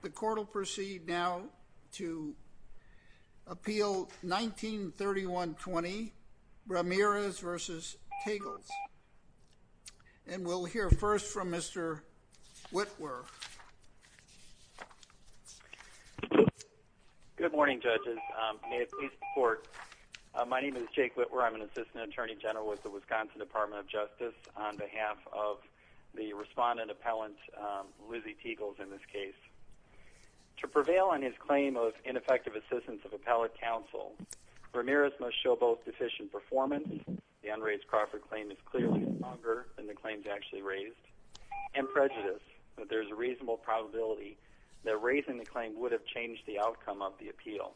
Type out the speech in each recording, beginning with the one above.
The court will proceed now to appeal 1931-20, Ramirez v. Tegels, and we'll hear first from Mr. Witwer. Good morning, judges. May it please the court, my name is Jake Witwer. I'm an assistant attorney general with the Wisconsin Department of Justice on behalf of the respondent appellant, Lizzie Tegels in this case. To prevail on his claim of ineffective assistance of appellate counsel, Ramirez must show both deficient performance, the unraised Crawford claim is clearly stronger than the claims actually raised, and prejudice that there's a reasonable probability that raising the claim would have changed the outcome of the appeal.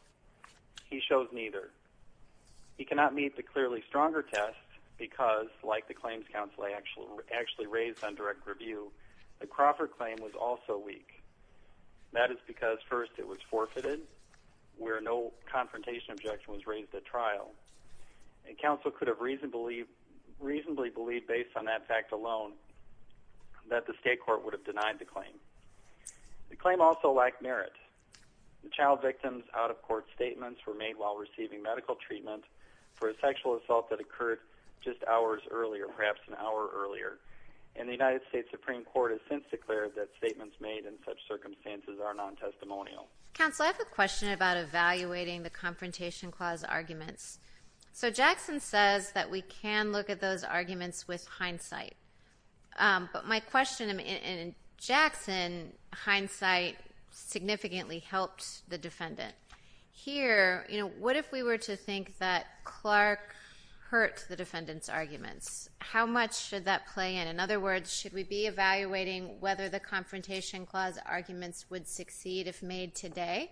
He shows neither. He cannot meet the clearly stronger test because, like the claims counsel I actually raised on direct review, the Crawford claim was also weak. That is because, first, it was forfeited, where no confrontation objection was raised at trial, and counsel could have reasonably believed, based on that fact alone, that the state court would have denied the claim. The claim also lacked merit. The child victim's out-of-court statements were made while receiving medical treatment for a sexual assault that occurred just hours earlier, perhaps an hour earlier, and the United States Supreme Court has since declared that statements made in such circumstances are non-testimonial. Counsel, I have a question about evaluating the confrontation clause arguments. So Jackson says that we can look at those arguments with hindsight, but my question in Jackson, hindsight significantly helped the defendant. Here, you know, what if we were to think that Clark hurt the defendant's arguments? How much should that play in? In other words, should we be evaluating whether the confrontation clause arguments would succeed if made today,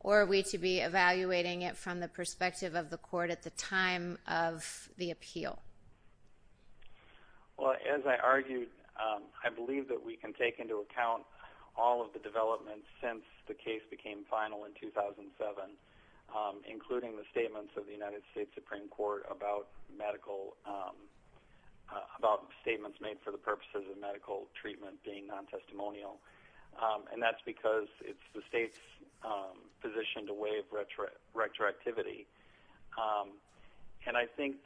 or are we to be evaluating it from the perspective of the court at the time of the appeal? Well, as I argued, I believe that we can take into account all of the developments since the case became final in 2007, including the statements of the United States Supreme Court about statements made for the purposes of medical treatment being non-testimonial, and that's because it's the state's position to waive retroactivity. And I think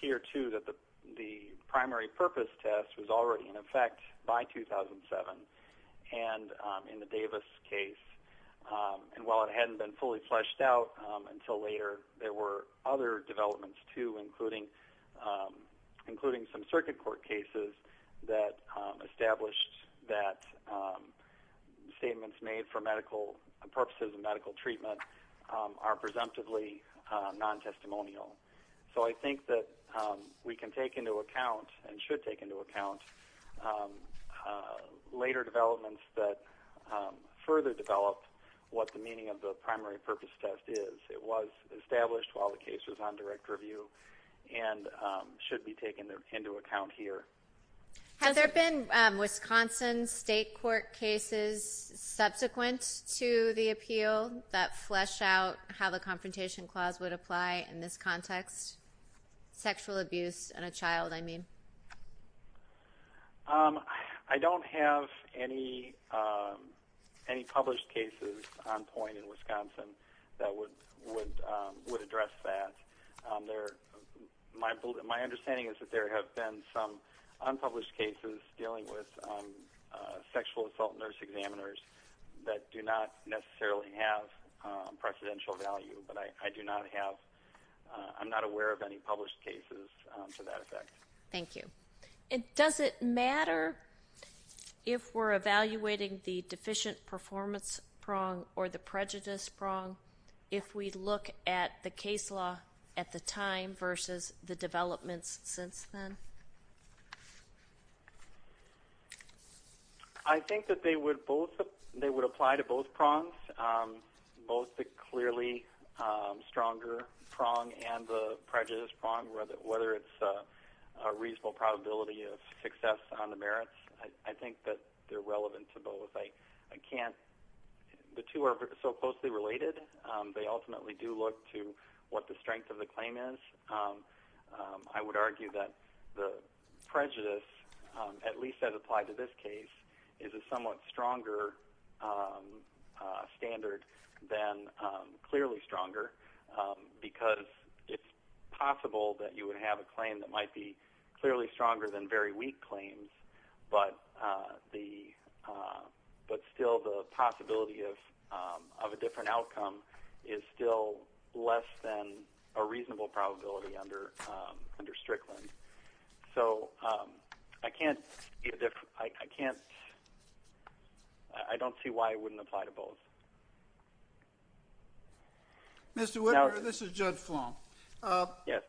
here, too, the primary purpose test was already in effect by 2007, and in the Davis case, and while it hadn't been fully fleshed out until later, there were other developments, too, including some circuit court cases that established that statements made for purposes of medical treatment are presumptively non-testimonial. So I think that we can take into account and should take into account later developments that further develop what the meaning of the primary purpose test is. It was established while the case was on direct review and should be taken into account here. Has there been Wisconsin state court cases subsequent to the appeal that flesh out how the confrontation clause would apply in this context? Sexual abuse on a child, I mean. I don't have any published cases on point in Wisconsin that would address that. There, my understanding is that there have been some unpublished cases dealing with sexual assault nurse examiners that do not necessarily have precedential value, but I do not have, I'm not aware of any published cases to that effect. Thank you. Does it matter if we're evaluating the deficient performance prong or the prejudice prong if we look at the case law at the time versus the developments since then? I think that they would apply to both prongs, both the clearly stronger prong and the prejudice prong, whether it's a reasonable probability of success on the merits. I think that they're relevant to both. I can't, the two are so closely related. They ultimately do look to what the strength of the claim is. I would argue that the prejudice, at least as applied to this case, is a somewhat stronger standard than clearly stronger because it's possible that you would have a claim that might be clearly stronger than very of a different outcome is still less than a reasonable probability under Strickland. So I can't, I can't, I don't see why it wouldn't apply to both. Mr. Whitmer, this is Judge Flom. Yes.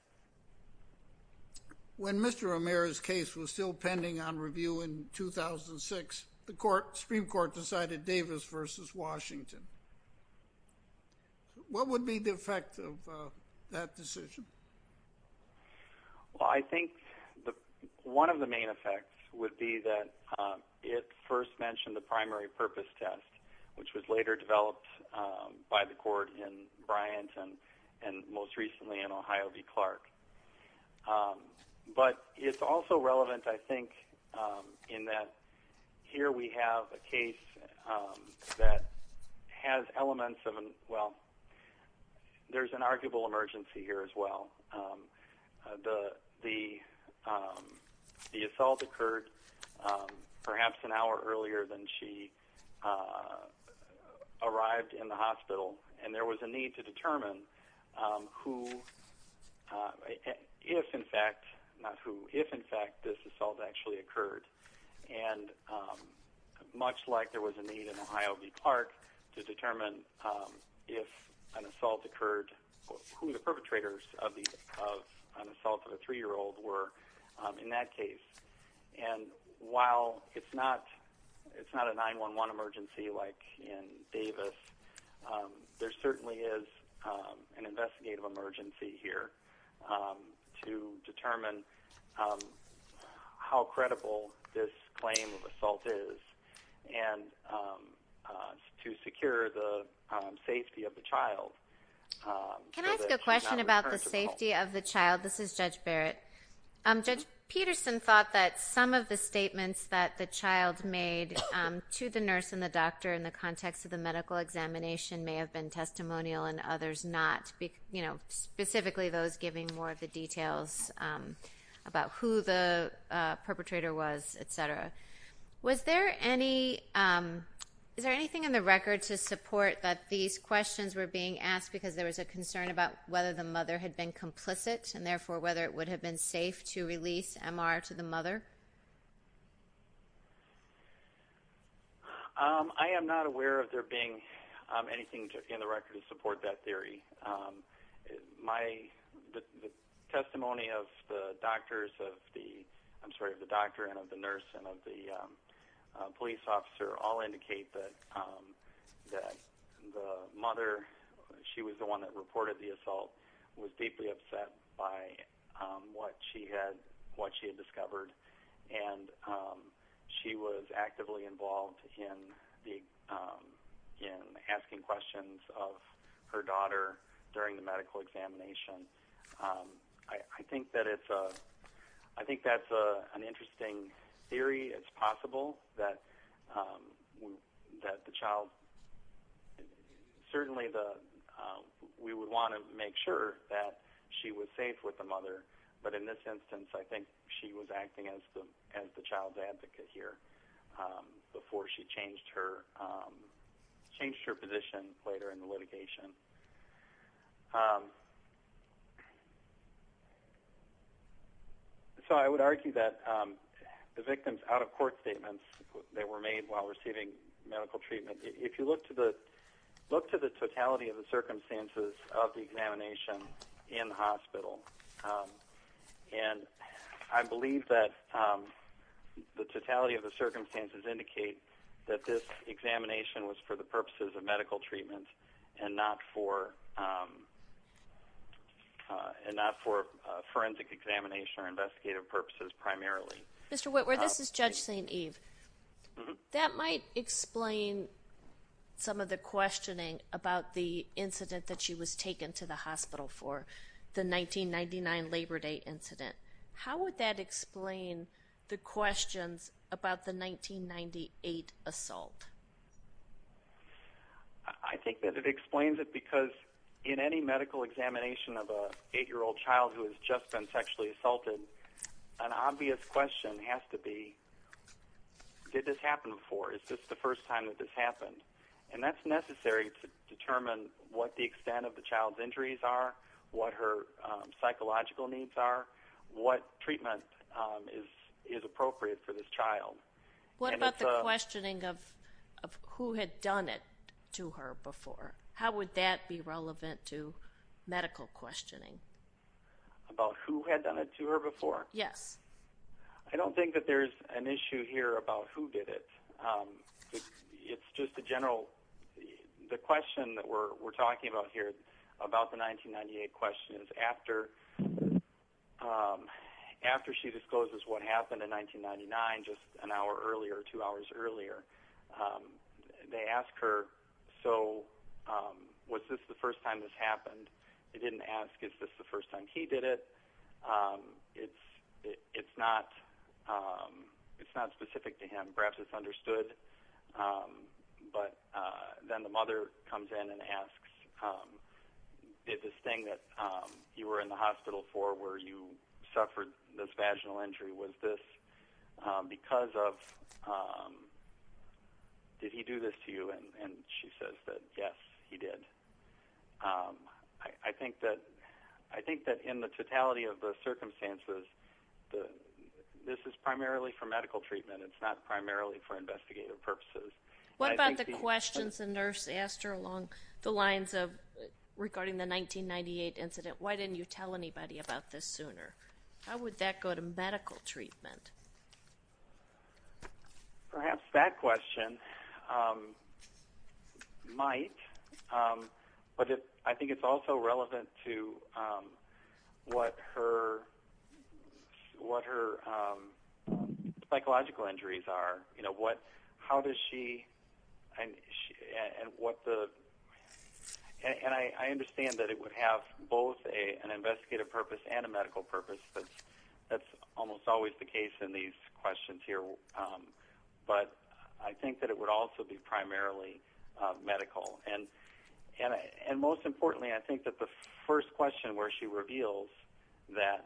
When Mr. Romero's case was still pending on review in 2006, the Supreme Court decided Davis versus Washington. What would be the effect of that decision? Well, I think one of the main effects would be that it first mentioned the primary purpose test, which was later developed by the court in Bryant and most recently in Ohio v. Clark. But it's also relevant, I think, in that here we have a case that has elements of an, well, there's an arguable emergency here as well. The assault occurred perhaps an hour earlier than she arrived in the hospital and there was a need to determine who, if in fact, not who, if in fact this assault actually occurred. And much like there was a need in Ohio v. Clark to determine if an assault occurred, who the perpetrators of an assault of a three-year-old were in that case. And while it's not a 911 emergency like in Davis, there certainly is an investigative emergency here to determine how credible this claim of assault is and to secure the safety of the child. Can I ask a question about the safety of the child? This is Judge Barrett. Judge Peterson thought that some of the statements that the child made to the nurse and the doctor in the context of the medical examination may have been testimonial and others not, specifically those giving more of the details about who the perpetrator was, etc. Is there anything in the record to support that these questions were being asked because there was a concern about whether the mother had been complicit and therefore whether it would have been safe to release M.R. to the mother? I am not aware of there being anything in the record to support that theory. The testimony of the doctor and of the nurse and of the police officer all indicate that the mother, she was the one that reported the assault, was deeply upset by what she had discovered. And she was actively involved in asking questions of her daughter during the medical examination. I think that's an interesting theory. It's possible that the child, certainly we would want to make sure that she was safe with the mother, but in this instance I think she was acting as the child's advocate here before she changed her position later in the litigation. So I would argue that the victims out of court statements that were made while receiving medical treatment, if you look to the totality of the circumstances of the examination in the hospital, and I believe that the totality of the circumstances indicate that this examination was for the purposes of medical treatment and not for forensic examination or investigative purposes primarily. Mr. Whitworth, this is Judge St. Eve. That might explain some of the questioning about the incident that she was taken to the hospital for, the 1999 Labor Day incident. How would that I think that it explains it because in any medical examination of an eight-year-old child who has just been sexually assaulted, an obvious question has to be, did this happen before? Is this the first time that this happened? And that's necessary to determine what the extent of the child's injuries are, what her psychological needs are, what treatment is appropriate for this child. What about the questioning of who had done it to her before? How would that be relevant to medical questioning? About who had done it to her before? Yes. I don't think that there's an issue here about who did it. It's just a general, the question that we're talking about here is after she discloses what happened in 1999, just an hour earlier, two hours earlier, they ask her, was this the first time this happened? They didn't ask, is this the first time he did it? It's not specific to him. Perhaps it's understood, but then the mother comes in and you were in the hospital for where you suffered this vaginal injury. Was this because of, did he do this to you? And she says that yes, he did. I think that in the totality of the circumstances, this is primarily for medical treatment. It's not primarily for investigative purposes. What about the questions the nurse asked her along the lines of regarding the 1998 incident? Why didn't you tell anybody about this sooner? How would that go to medical treatment? Perhaps that question might, but I think it's also relevant to what her investigative purpose and a medical purpose is. That's almost always the case in these questions here. But I think that it would also be primarily medical. And most importantly, I think that the first question where she reveals that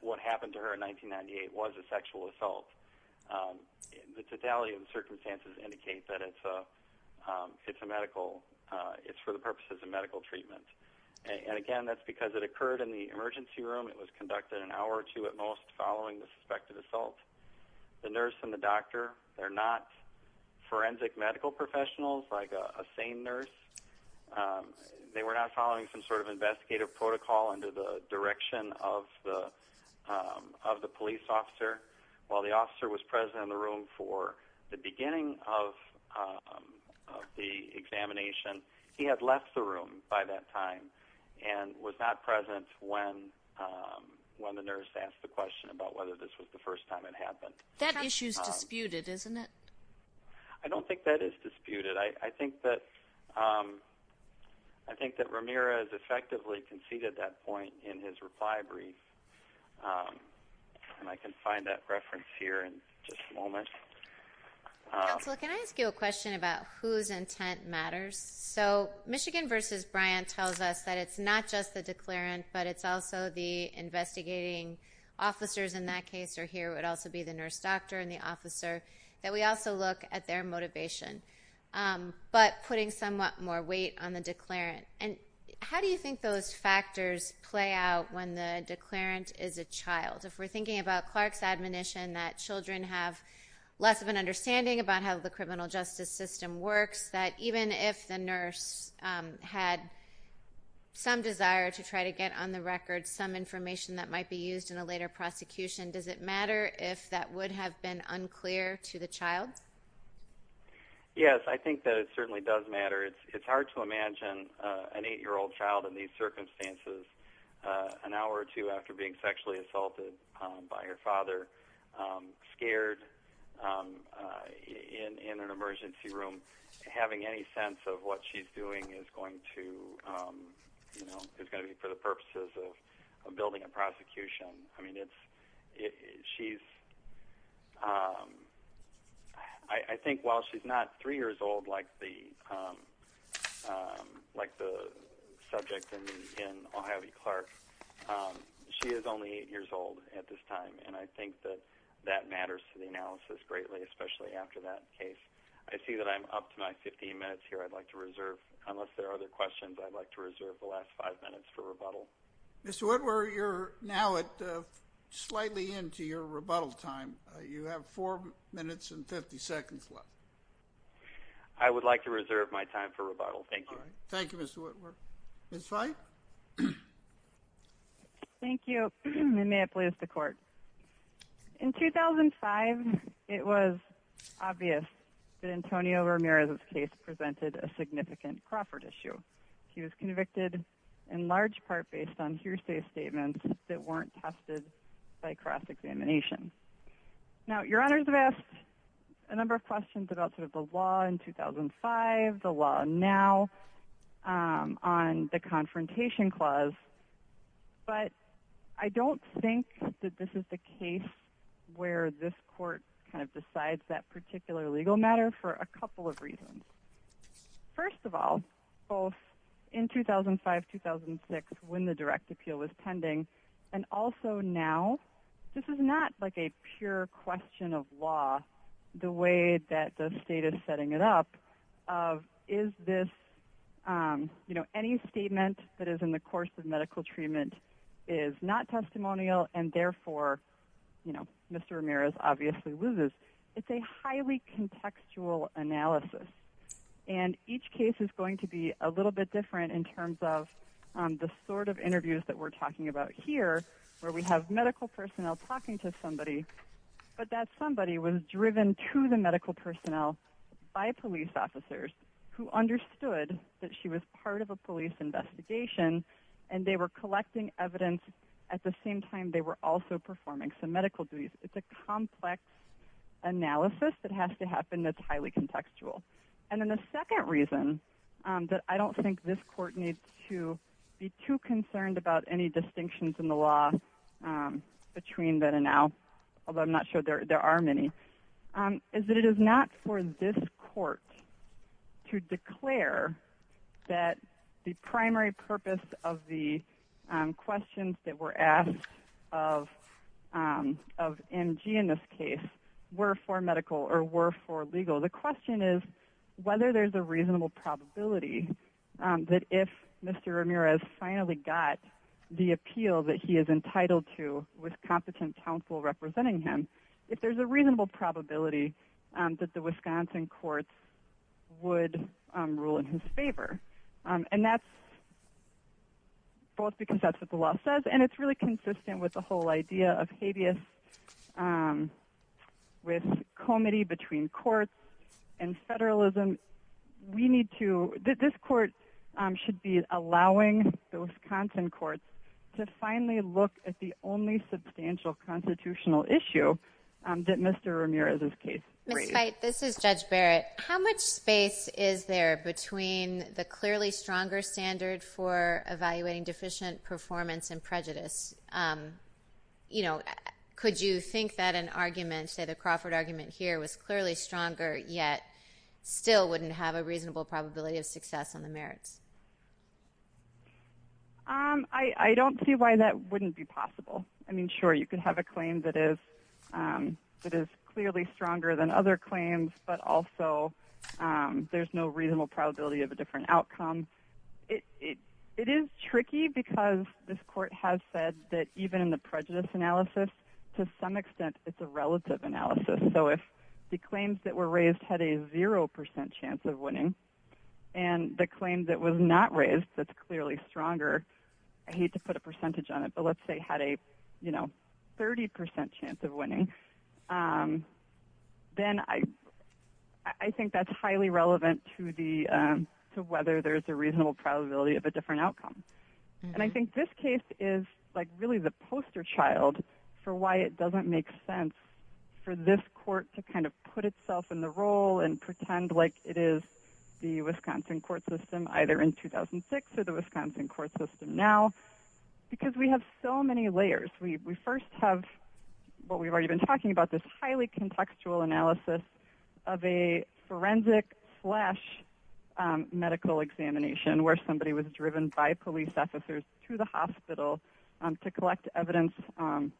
what happened to her in 1998 was a sexual treatment. And again, that's because it occurred in the emergency room. It was conducted an hour or two at most following the suspected assault. The nurse and the doctor, they're not forensic medical professionals, like a sane nurse. They were not following some sort of investigative protocol under the direction of the police officer. While the officer was present in the room for the beginning of the examination, he had left the room by that time and was not present when the nurse asked the question about whether this was the first time it happened. That issue is disputed, isn't it? I don't think that is disputed. I think that Ramirez effectively conceded that point in his reply brief. And I can find that reference here in just a moment. Counselor, can I ask you a question about whose intent matters? So Michigan versus Bryant tells us that it's not just the declarant, but it's also the investigating officers in that case or here. It would also be the nurse doctor and the officer, that we also look at their motivation. But putting somewhat more weight on the declarant. And how do you think those factors play out when the declarant is a child? If we're thinking about Clark's admonition that children have less of an understanding about how the criminal justice system works, that even if the nurse had some desire to try to get on the record some information that might be used in a later prosecution, does it matter if that would have been unclear to the child? Yes, I think that it certainly does matter. It's hard to imagine an eight-year-old child in these circumstances, an hour or two after being sexually assaulted by her father, scared in an emergency room, having any sense of what she's doing is going to be for the purposes of the prosecution. And I think that that matters to the analysis greatly, especially after that case. I see that I'm up to my 15 minutes here. I'd like to reserve, unless there are other questions, I'd like to reserve the last five minutes for rebuttal. Mr. Woodward, you're now slightly into your rebuttal time. You have four minutes and 50 seconds left. I would like to reserve my time for rebuttal. Thank you. Thank you, Mr. Woodward. Ms. Veit? Thank you, and may it please the court. In 2005, it was obvious that Antonio Ramirez's case presented a significant Crawford issue. He was convicted in large part based on hearsay statements that weren't tested by cross-examination. Now, Your Honors, I've asked a number of questions about sort of the law in 2005, the law now on the Confrontation Clause, but I don't think that this is the case where this court kind of decides that particular legal matter for a couple of reasons. First of all, both in 2005-2006 when the direct appeal was pending and also now, this is not like a pure question of law the way that the state is setting it up of is this, you know, any statement that is in the course of medical treatment is not testimonial and therefore, you know, Mr. Ramirez obviously loses. It's a highly contextual analysis, and each case is going to be a little bit different in terms of the sort of interviews that we're talking about here where we have medical personnel talking to somebody, but that somebody was driven to the medical personnel by police officers who understood that she was part of a police investigation, and they were collecting evidence at the same time they were also performing some medical duties. It's a complex analysis that has to happen that's highly contextual. And then the second reason that I don't think this court needs to be too concerned about any distinctions in the law between then and now, although I'm not sure there are many, is that it is not for this court to declare that the primary purpose of the questions that were asked of MG in this case were for medical or were for legal. The question is whether there's a reasonable probability that if Mr. Ramirez finally got the appeal that he is entitled to with probability that the Wisconsin courts would rule in his favor. And that's both because that's what the law says and it's really consistent with the whole idea of habeas with comity between courts and federalism. We need to, this court should be allowing the Wisconsin courts to finally look at the only substantial constitutional issue that Mr. Ramirez's case raised. Ms. Feit, this is Judge Barrett. How much space is there between the clearly stronger standard for evaluating deficient performance and prejudice? Could you think that an argument, say the Crawford argument here, was clearly stronger yet still wouldn't have a reasonable probability of success on the merits? I don't see why that wouldn't be possible. I mean, sure, you could have a claim that is clearly stronger than other claims, but also there's no reasonable probability of a different outcome. It is tricky because this court has said that even in the prejudice analysis, to some extent, it's a relative analysis. So if the claims that were raised had a zero percent chance of winning and the claim that was not raised that's clearly stronger, I hate to put percentage on it, but let's say had a 30 percent chance of winning, then I think that's highly relevant to whether there's a reasonable probability of a different outcome. And I think this case is really the poster child for why it doesn't make sense for this court to kind of put itself in the role and pretend like it is the Wisconsin court system either in 2006 or the because we have so many layers. We first have what we've already been talking about, this highly contextual analysis of a forensic slash medical examination where somebody was driven by police officers to the hospital to collect evidence on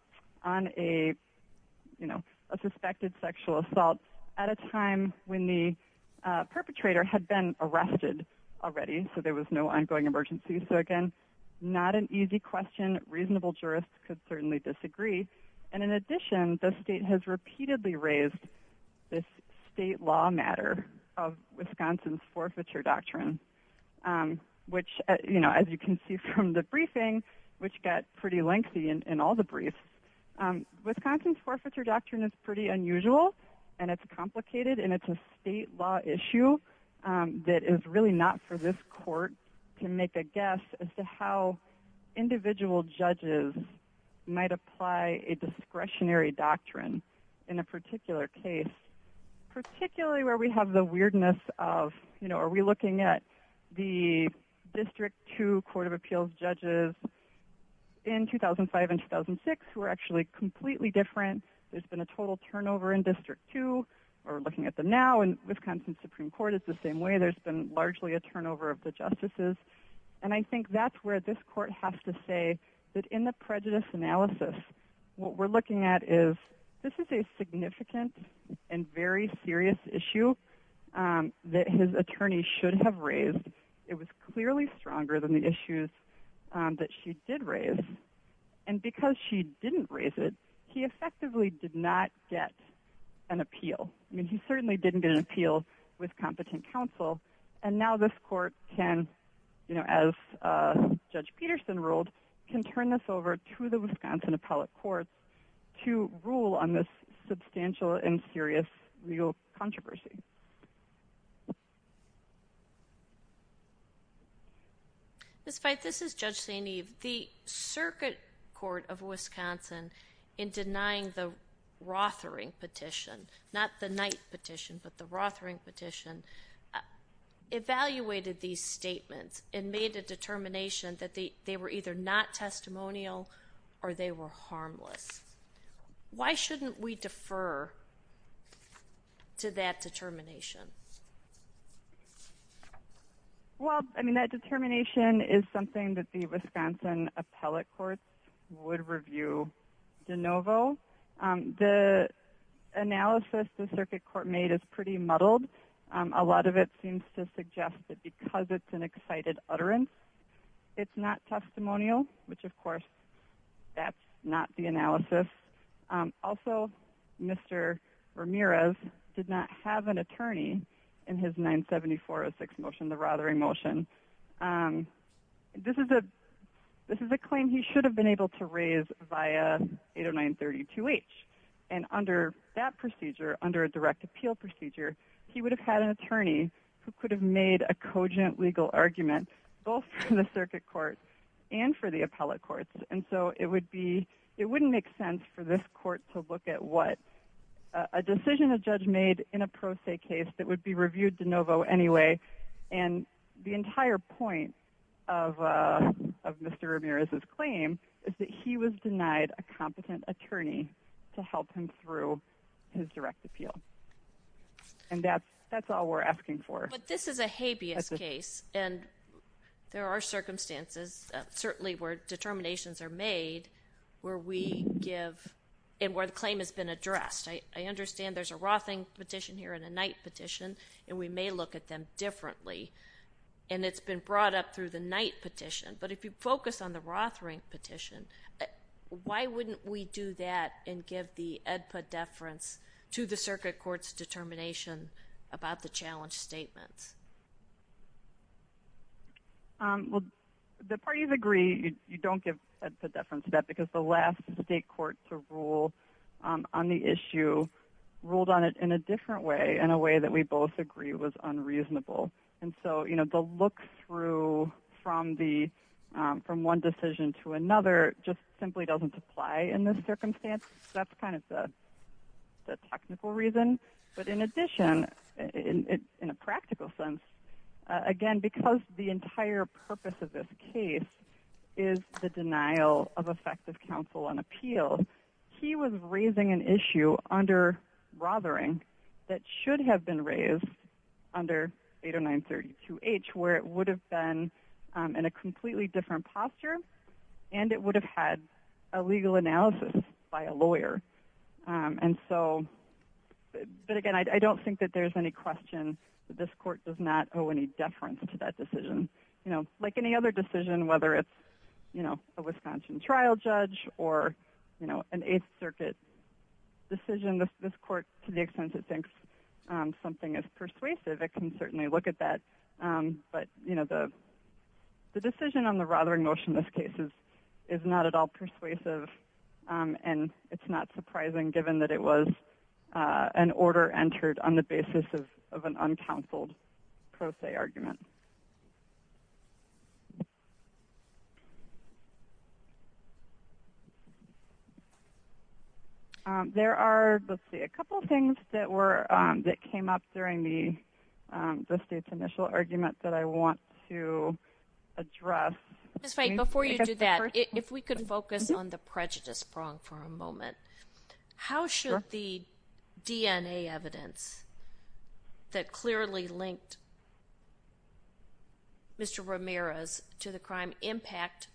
a suspected sexual assault at a time when the perpetrator had been arrested already, so there was no ongoing emergency. So it's not an easy question. Reasonable jurists could certainly disagree. And in addition, the state has repeatedly raised this state law matter of Wisconsin's forfeiture doctrine, which, you know, as you can see from the briefing, which got pretty lengthy in all the briefs, Wisconsin's forfeiture doctrine is pretty unusual and it's complicated and it's a state law issue that is really not for this court to make a guess as to how individual judges might apply a discretionary doctrine in a particular case, particularly where we have the weirdness of, you know, are we looking at the district two court of appeals judges in 2005 and 2006, who are actually completely different? There's been a total turnover in district two or looking at them now in Wisconsin Supreme Court is the same way. There's been largely a turnover of the justices. And I think that's where this court has to say that in the prejudice analysis, what we're looking at is this is a significant and very serious issue that his attorney should have raised. It was clearly stronger than the issues that she did raise. And because she didn't raise it, he effectively did not get an appeal. I mean, he certainly didn't get an appeal with competent counsel. And now this court can, you know, as Judge Peterson ruled, can turn this over to the Wisconsin appellate courts to rule on this substantial and serious legal controversy. Ms. Feith, this is Judge St. Eve. The Circuit Court of Wisconsin in denying the Rothering petition, not the Knight petition, but the Rothering petition, evaluated these statements and made a determination that they were either not testimonial or they were harmless. Why shouldn't we defer to that determination? Well, I mean, that determination is something that the Wisconsin appellate courts would review de novo. The analysis the Circuit Court made is pretty muddled. A lot of it seems to suggest that because it's an excited utterance, it's not testimonial, which of course, that's not the analysis. Also, Mr. Ramirez did not have an attorney in his 974-06 motion, the Rothering motion. This is a claim he should have been able to raise via 809-32H. And under that procedure, under a direct appeal procedure, he would have had an attorney who could have made a cogent legal argument both for the Circuit Court and for the appellate courts. And so it wouldn't make sense for this court to look at what a decision a judge made in a pro se case that would be reviewed de novo anyway. And the entire point of Mr. Ramirez's claim is that he was denied a competent attorney to help him through his direct appeal. And that's all we're asking for. But this is a habeas case, and there are circumstances certainly where determinations are made where we give and where the claim has been addressed. I understand there's a Rothering petition here and a Knight petition, and we may look at them differently. And it's been brought up through the Knight petition. But if you focus on the Rothering petition, why wouldn't we do that and give the AEDPA deference to the Circuit Court's determination about the challenge statement? Well, the parties agree you don't give AEDPA deference to that because the last state court to rule on the issue ruled on it in a different way, in a way that we both agree was unreasonable. And so the look through from one decision to another just simply doesn't apply in this circumstance. That's kind of the technical reason. But in addition, in a practical sense, again, because the entire purpose of this case is the denial of effective counsel and appeal, he was raising an issue under Rothering that should have been raised under 80932H, where it would have been in a completely different posture, and it would have had a legal analysis by a lawyer. But again, I don't think that there's any question that this court does not owe any deference to that decision. Like any other decision, whether it's a Wisconsin trial judge or an Eighth Circuit decision, this court, to the extent it thinks something is persuasive, it can certainly look at that. But the decision on the Rothering motion in this case is not at all persuasive, and it's not surprising given that it was an order entered on the basis of an uncounseled pro se argument. There are, let's see, a couple things that were, that came up during the state's initial argument that I want to address. Just wait, before you do that, if we could focus on the prejudice prong for a moment. How should the DNA evidence that clearly linked Mr. Ramirez to the crime impact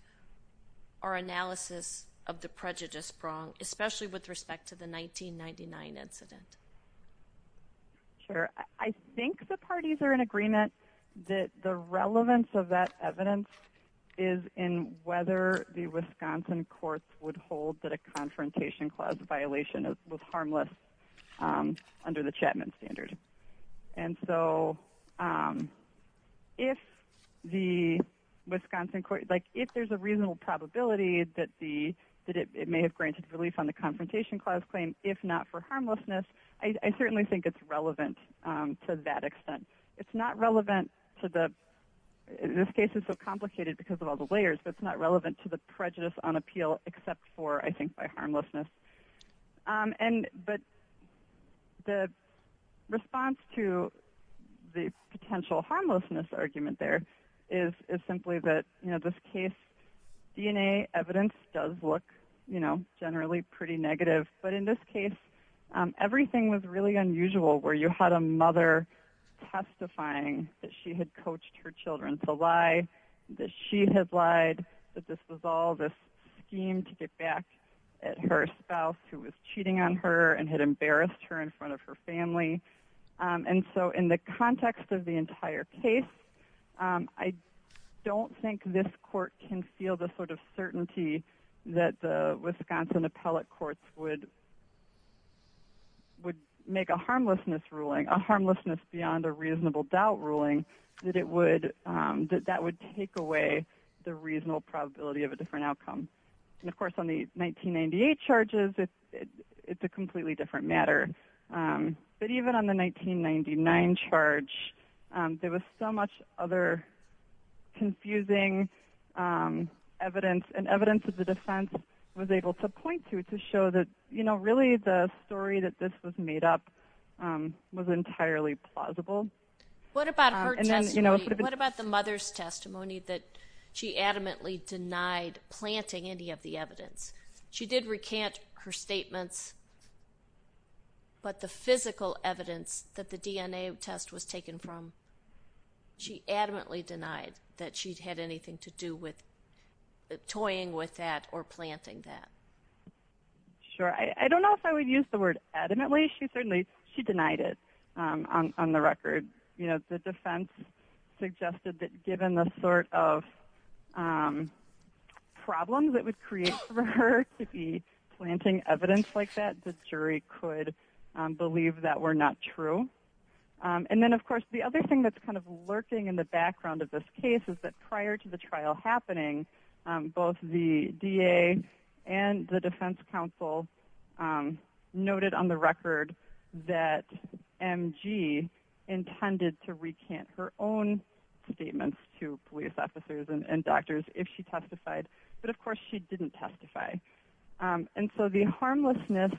our analysis of the prejudice prong, especially with respect to the 1999 incident? Sure. I think the parties are in agreement that the relevance of that evidence is in whether the Wisconsin courts would hold that a confrontation clause violation was harmless under the Chapman standard. And so if the Wisconsin court, like if there's a reasonable probability that it may have granted relief on the confrontation clause claim, if not for harmlessness, I certainly think it's relevant to that extent. It's not relevant to the, in this case it's so complicated because of all the layers, but it's not relevant to the prejudice on appeal except for, I think, by harmlessness. And, but the response to the potential harmlessness argument there is simply that, you know, this case DNA evidence does look, you know, generally pretty negative, but in this case everything was really unusual where you had a mother testifying that she had coached her children to lie, that she had lied, that this was all this scheme to get back at her spouse who was cheating on her and had embarrassed her in front of her family. And so in the context of the entire case, I don't think this court can feel the sort of certainty that the Wisconsin appellate courts would make a harmlessness ruling, a harmlessness beyond a reasonable doubt ruling, that it would, that that would take away the reasonable probability of a different outcome. And of course on the 1998 charges, it's a completely different matter. But even on the 1999 charge, there was so much other confusing evidence and evidence that the defense was able to point to to show that, you know, really the story that this was made up was entirely plausible. What about her testimony? What about the mother's testimony that she adamantly denied planting any of the evidence? She did recant her statements, but the physical evidence that the DNA test was taken from, she adamantly denied that she'd had anything to do with toying with that or planting that. Sure, I don't know if I would use the word adamantly. She certainly, she denied it on the record. You know, the defense suggested that given the sort of problems that would create for her to be planting evidence like that, the jury could believe that were not true. And then of course, the other thing that's kind of lurking in the background of this case is that prior to the trial happening, both the DA and the defense counsel noted on the record that MG intended to recant her own statements to police officers and doctors if she testified. But of course, she didn't testify. And so the harmlessness,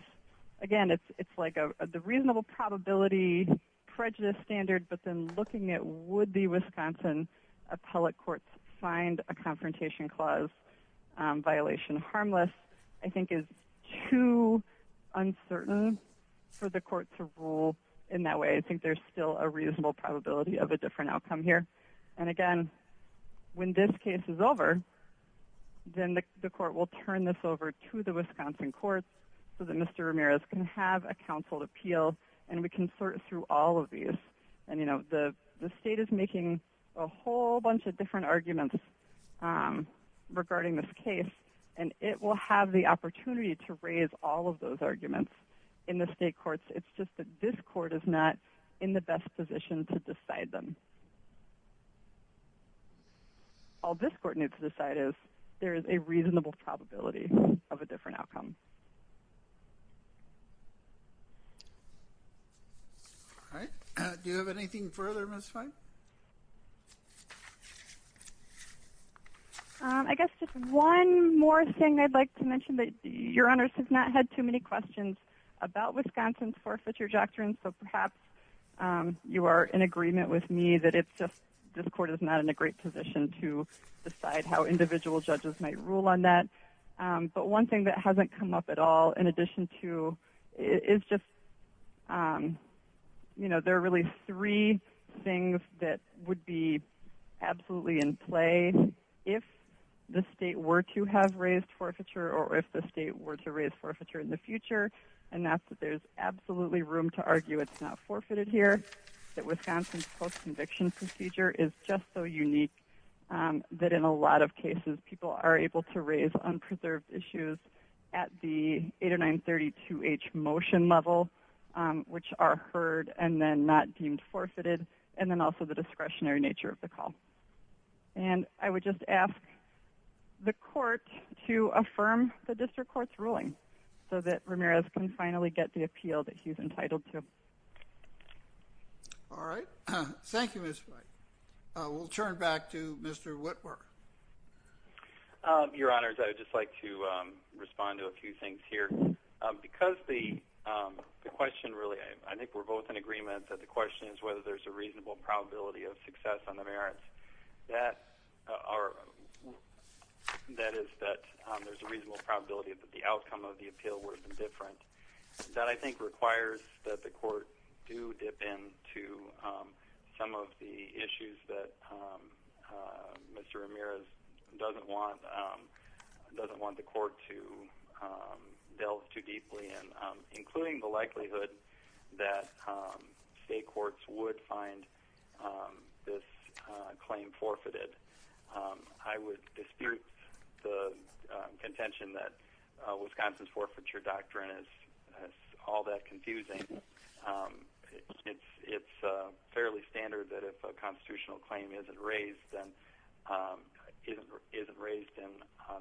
again, it's like the reasonable probability prejudice standard, but then looking at would the Wisconsin appellate courts find a confrontation clause violation harmless, I think is too uncertain for the court to rule in that way. I think there's still a reasonable probability of a different outcome here. And again, when this case is over, then the court will turn this over to the Wisconsin courts so that Mr. Ramirez can have a counsel appeal and we can sort through all of these. And you know, the state is making a whole bunch of different arguments regarding this case, and it will have the opportunity to raise all of those arguments in the state courts. It's just that this court is not in the best position to decide them. All this court needs to decide is there is a reasonable probability of a different outcome. All right. Do you have anything further, Ms. Fine? I guess just one more thing I'd like to mention that your honors have not had too many questions about Wisconsin's forfeiture doctrine. So perhaps you are in agreement with me that it's just this court is not in a great position to decide how individual judges might rule on that. But one thing that hasn't come up at all in addition to it is just, you know, there are really three things that would be absolutely in play if the state were to have raised forfeiture or if the state were to raise forfeiture in the future. And that's that there's absolutely room to argue it's not forfeited here, that Wisconsin's post-conviction procedure is just so unique that in a lot of cases people are able to raise unpreserved issues at the 809-32H motion level, which are heard and then not deemed forfeited, and then also the discretionary nature of the call. And I would just ask the court to affirm the district court's ruling so that Ramirez can finally get the appeal that he's entitled to. All right. Thank you, Ms. Fine. We'll turn back to Mr. Whitworth. Your Honors, I would just like to respond to a few things here. Because the question really, I think we're both in agreement that the question is whether there's a reasonable probability of success on the merits. That is that there's a reasonable probability that the outcome of the appeal would have been different. That I think requires that court do dip into some of the issues that Mr. Ramirez doesn't want the court to delve too deeply in, including the likelihood that state courts would find this claim forfeited. I would dispute the contention that Wisconsin's forfeiture doctrine is all that confusing. It's fairly standard that if a constitutional claim isn't raised in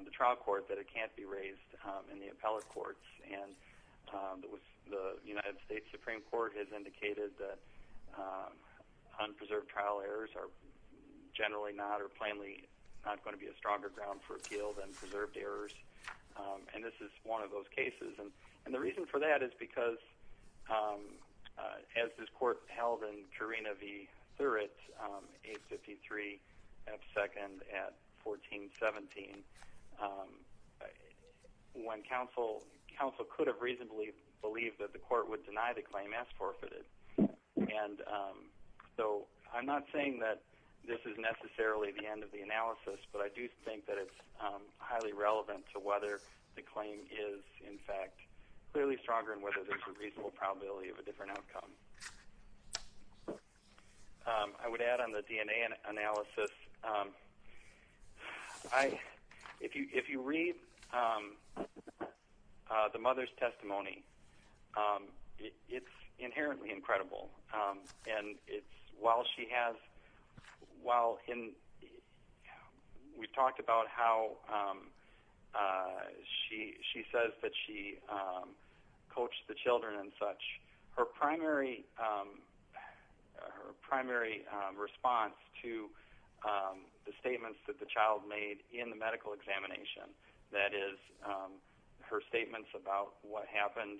the trial court that it can't be raised in the appellate courts. And the United States Supreme Court has indicated that unpreserved trial errors are generally not or plainly not going to be a stronger ground for appeal than preserved errors. And this is one of those cases. And the reason for that is because as this court held in Carina v. Thuritt, 853 F. 2nd at 1417, counsel could have reasonably believed that the court would deny the claim as forfeited. So I'm not saying that this is necessarily the end of the analysis, but I do think that it's highly relevant to whether the claim is, in fact, clearly stronger and whether there's a probability of a different outcome. I would add on the DNA analysis, if you read the mother's testimony, it's inherently incredible. And it's while she has, while we've talked about how she says that she coached the children and such, her primary response to the statements that the child made in the medical examination, that is her statements about what happened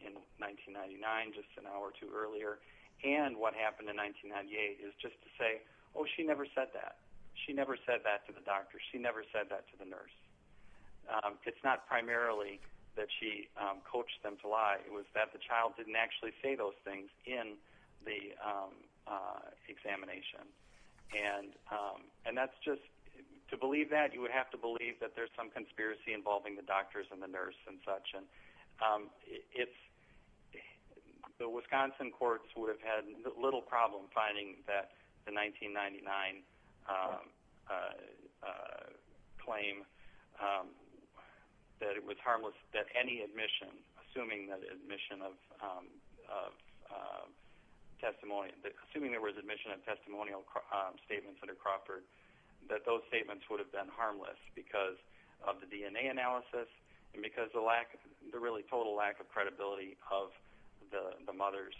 in 1999, just an hour or two earlier, and what happened in 1998 is just to say, oh, she never said that. She never said that to the doctor. She never said that to the nurse. It's not primarily that she coached them to lie. It was that the child didn't actually say those things in the examination. And that's just, to believe that, you would have to believe that there's some conspiracy involving the doctors and the nurse and such. And it's, the Wisconsin courts would have had little problem finding that the 1999 claim, that it was harmless, that any admission, assuming that admission of testimony, assuming there was admission of testimonial statements under Crawford, that those statements would have been harmless because of the DNA analysis, and because the lack, the really total lack of credibility of the mother's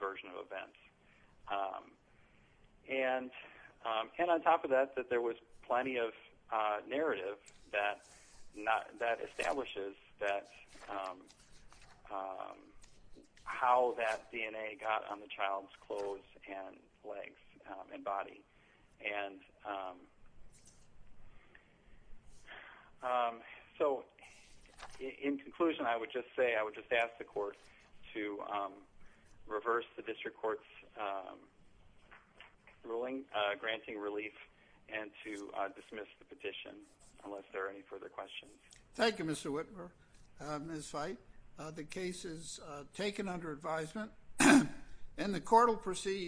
version of events. And on top of that, that there was plenty of narrative that establishes that, how that DNA got on the child's clothes and legs and body. And so, in conclusion, I would just say, I would just ask the court to reverse the district court's ruling, granting relief, and to dismiss the petition, unless there are any further questions. Thank you, Mr. Whitmer. Ms. Veit, the case is taken under advisement, and the court will proceed.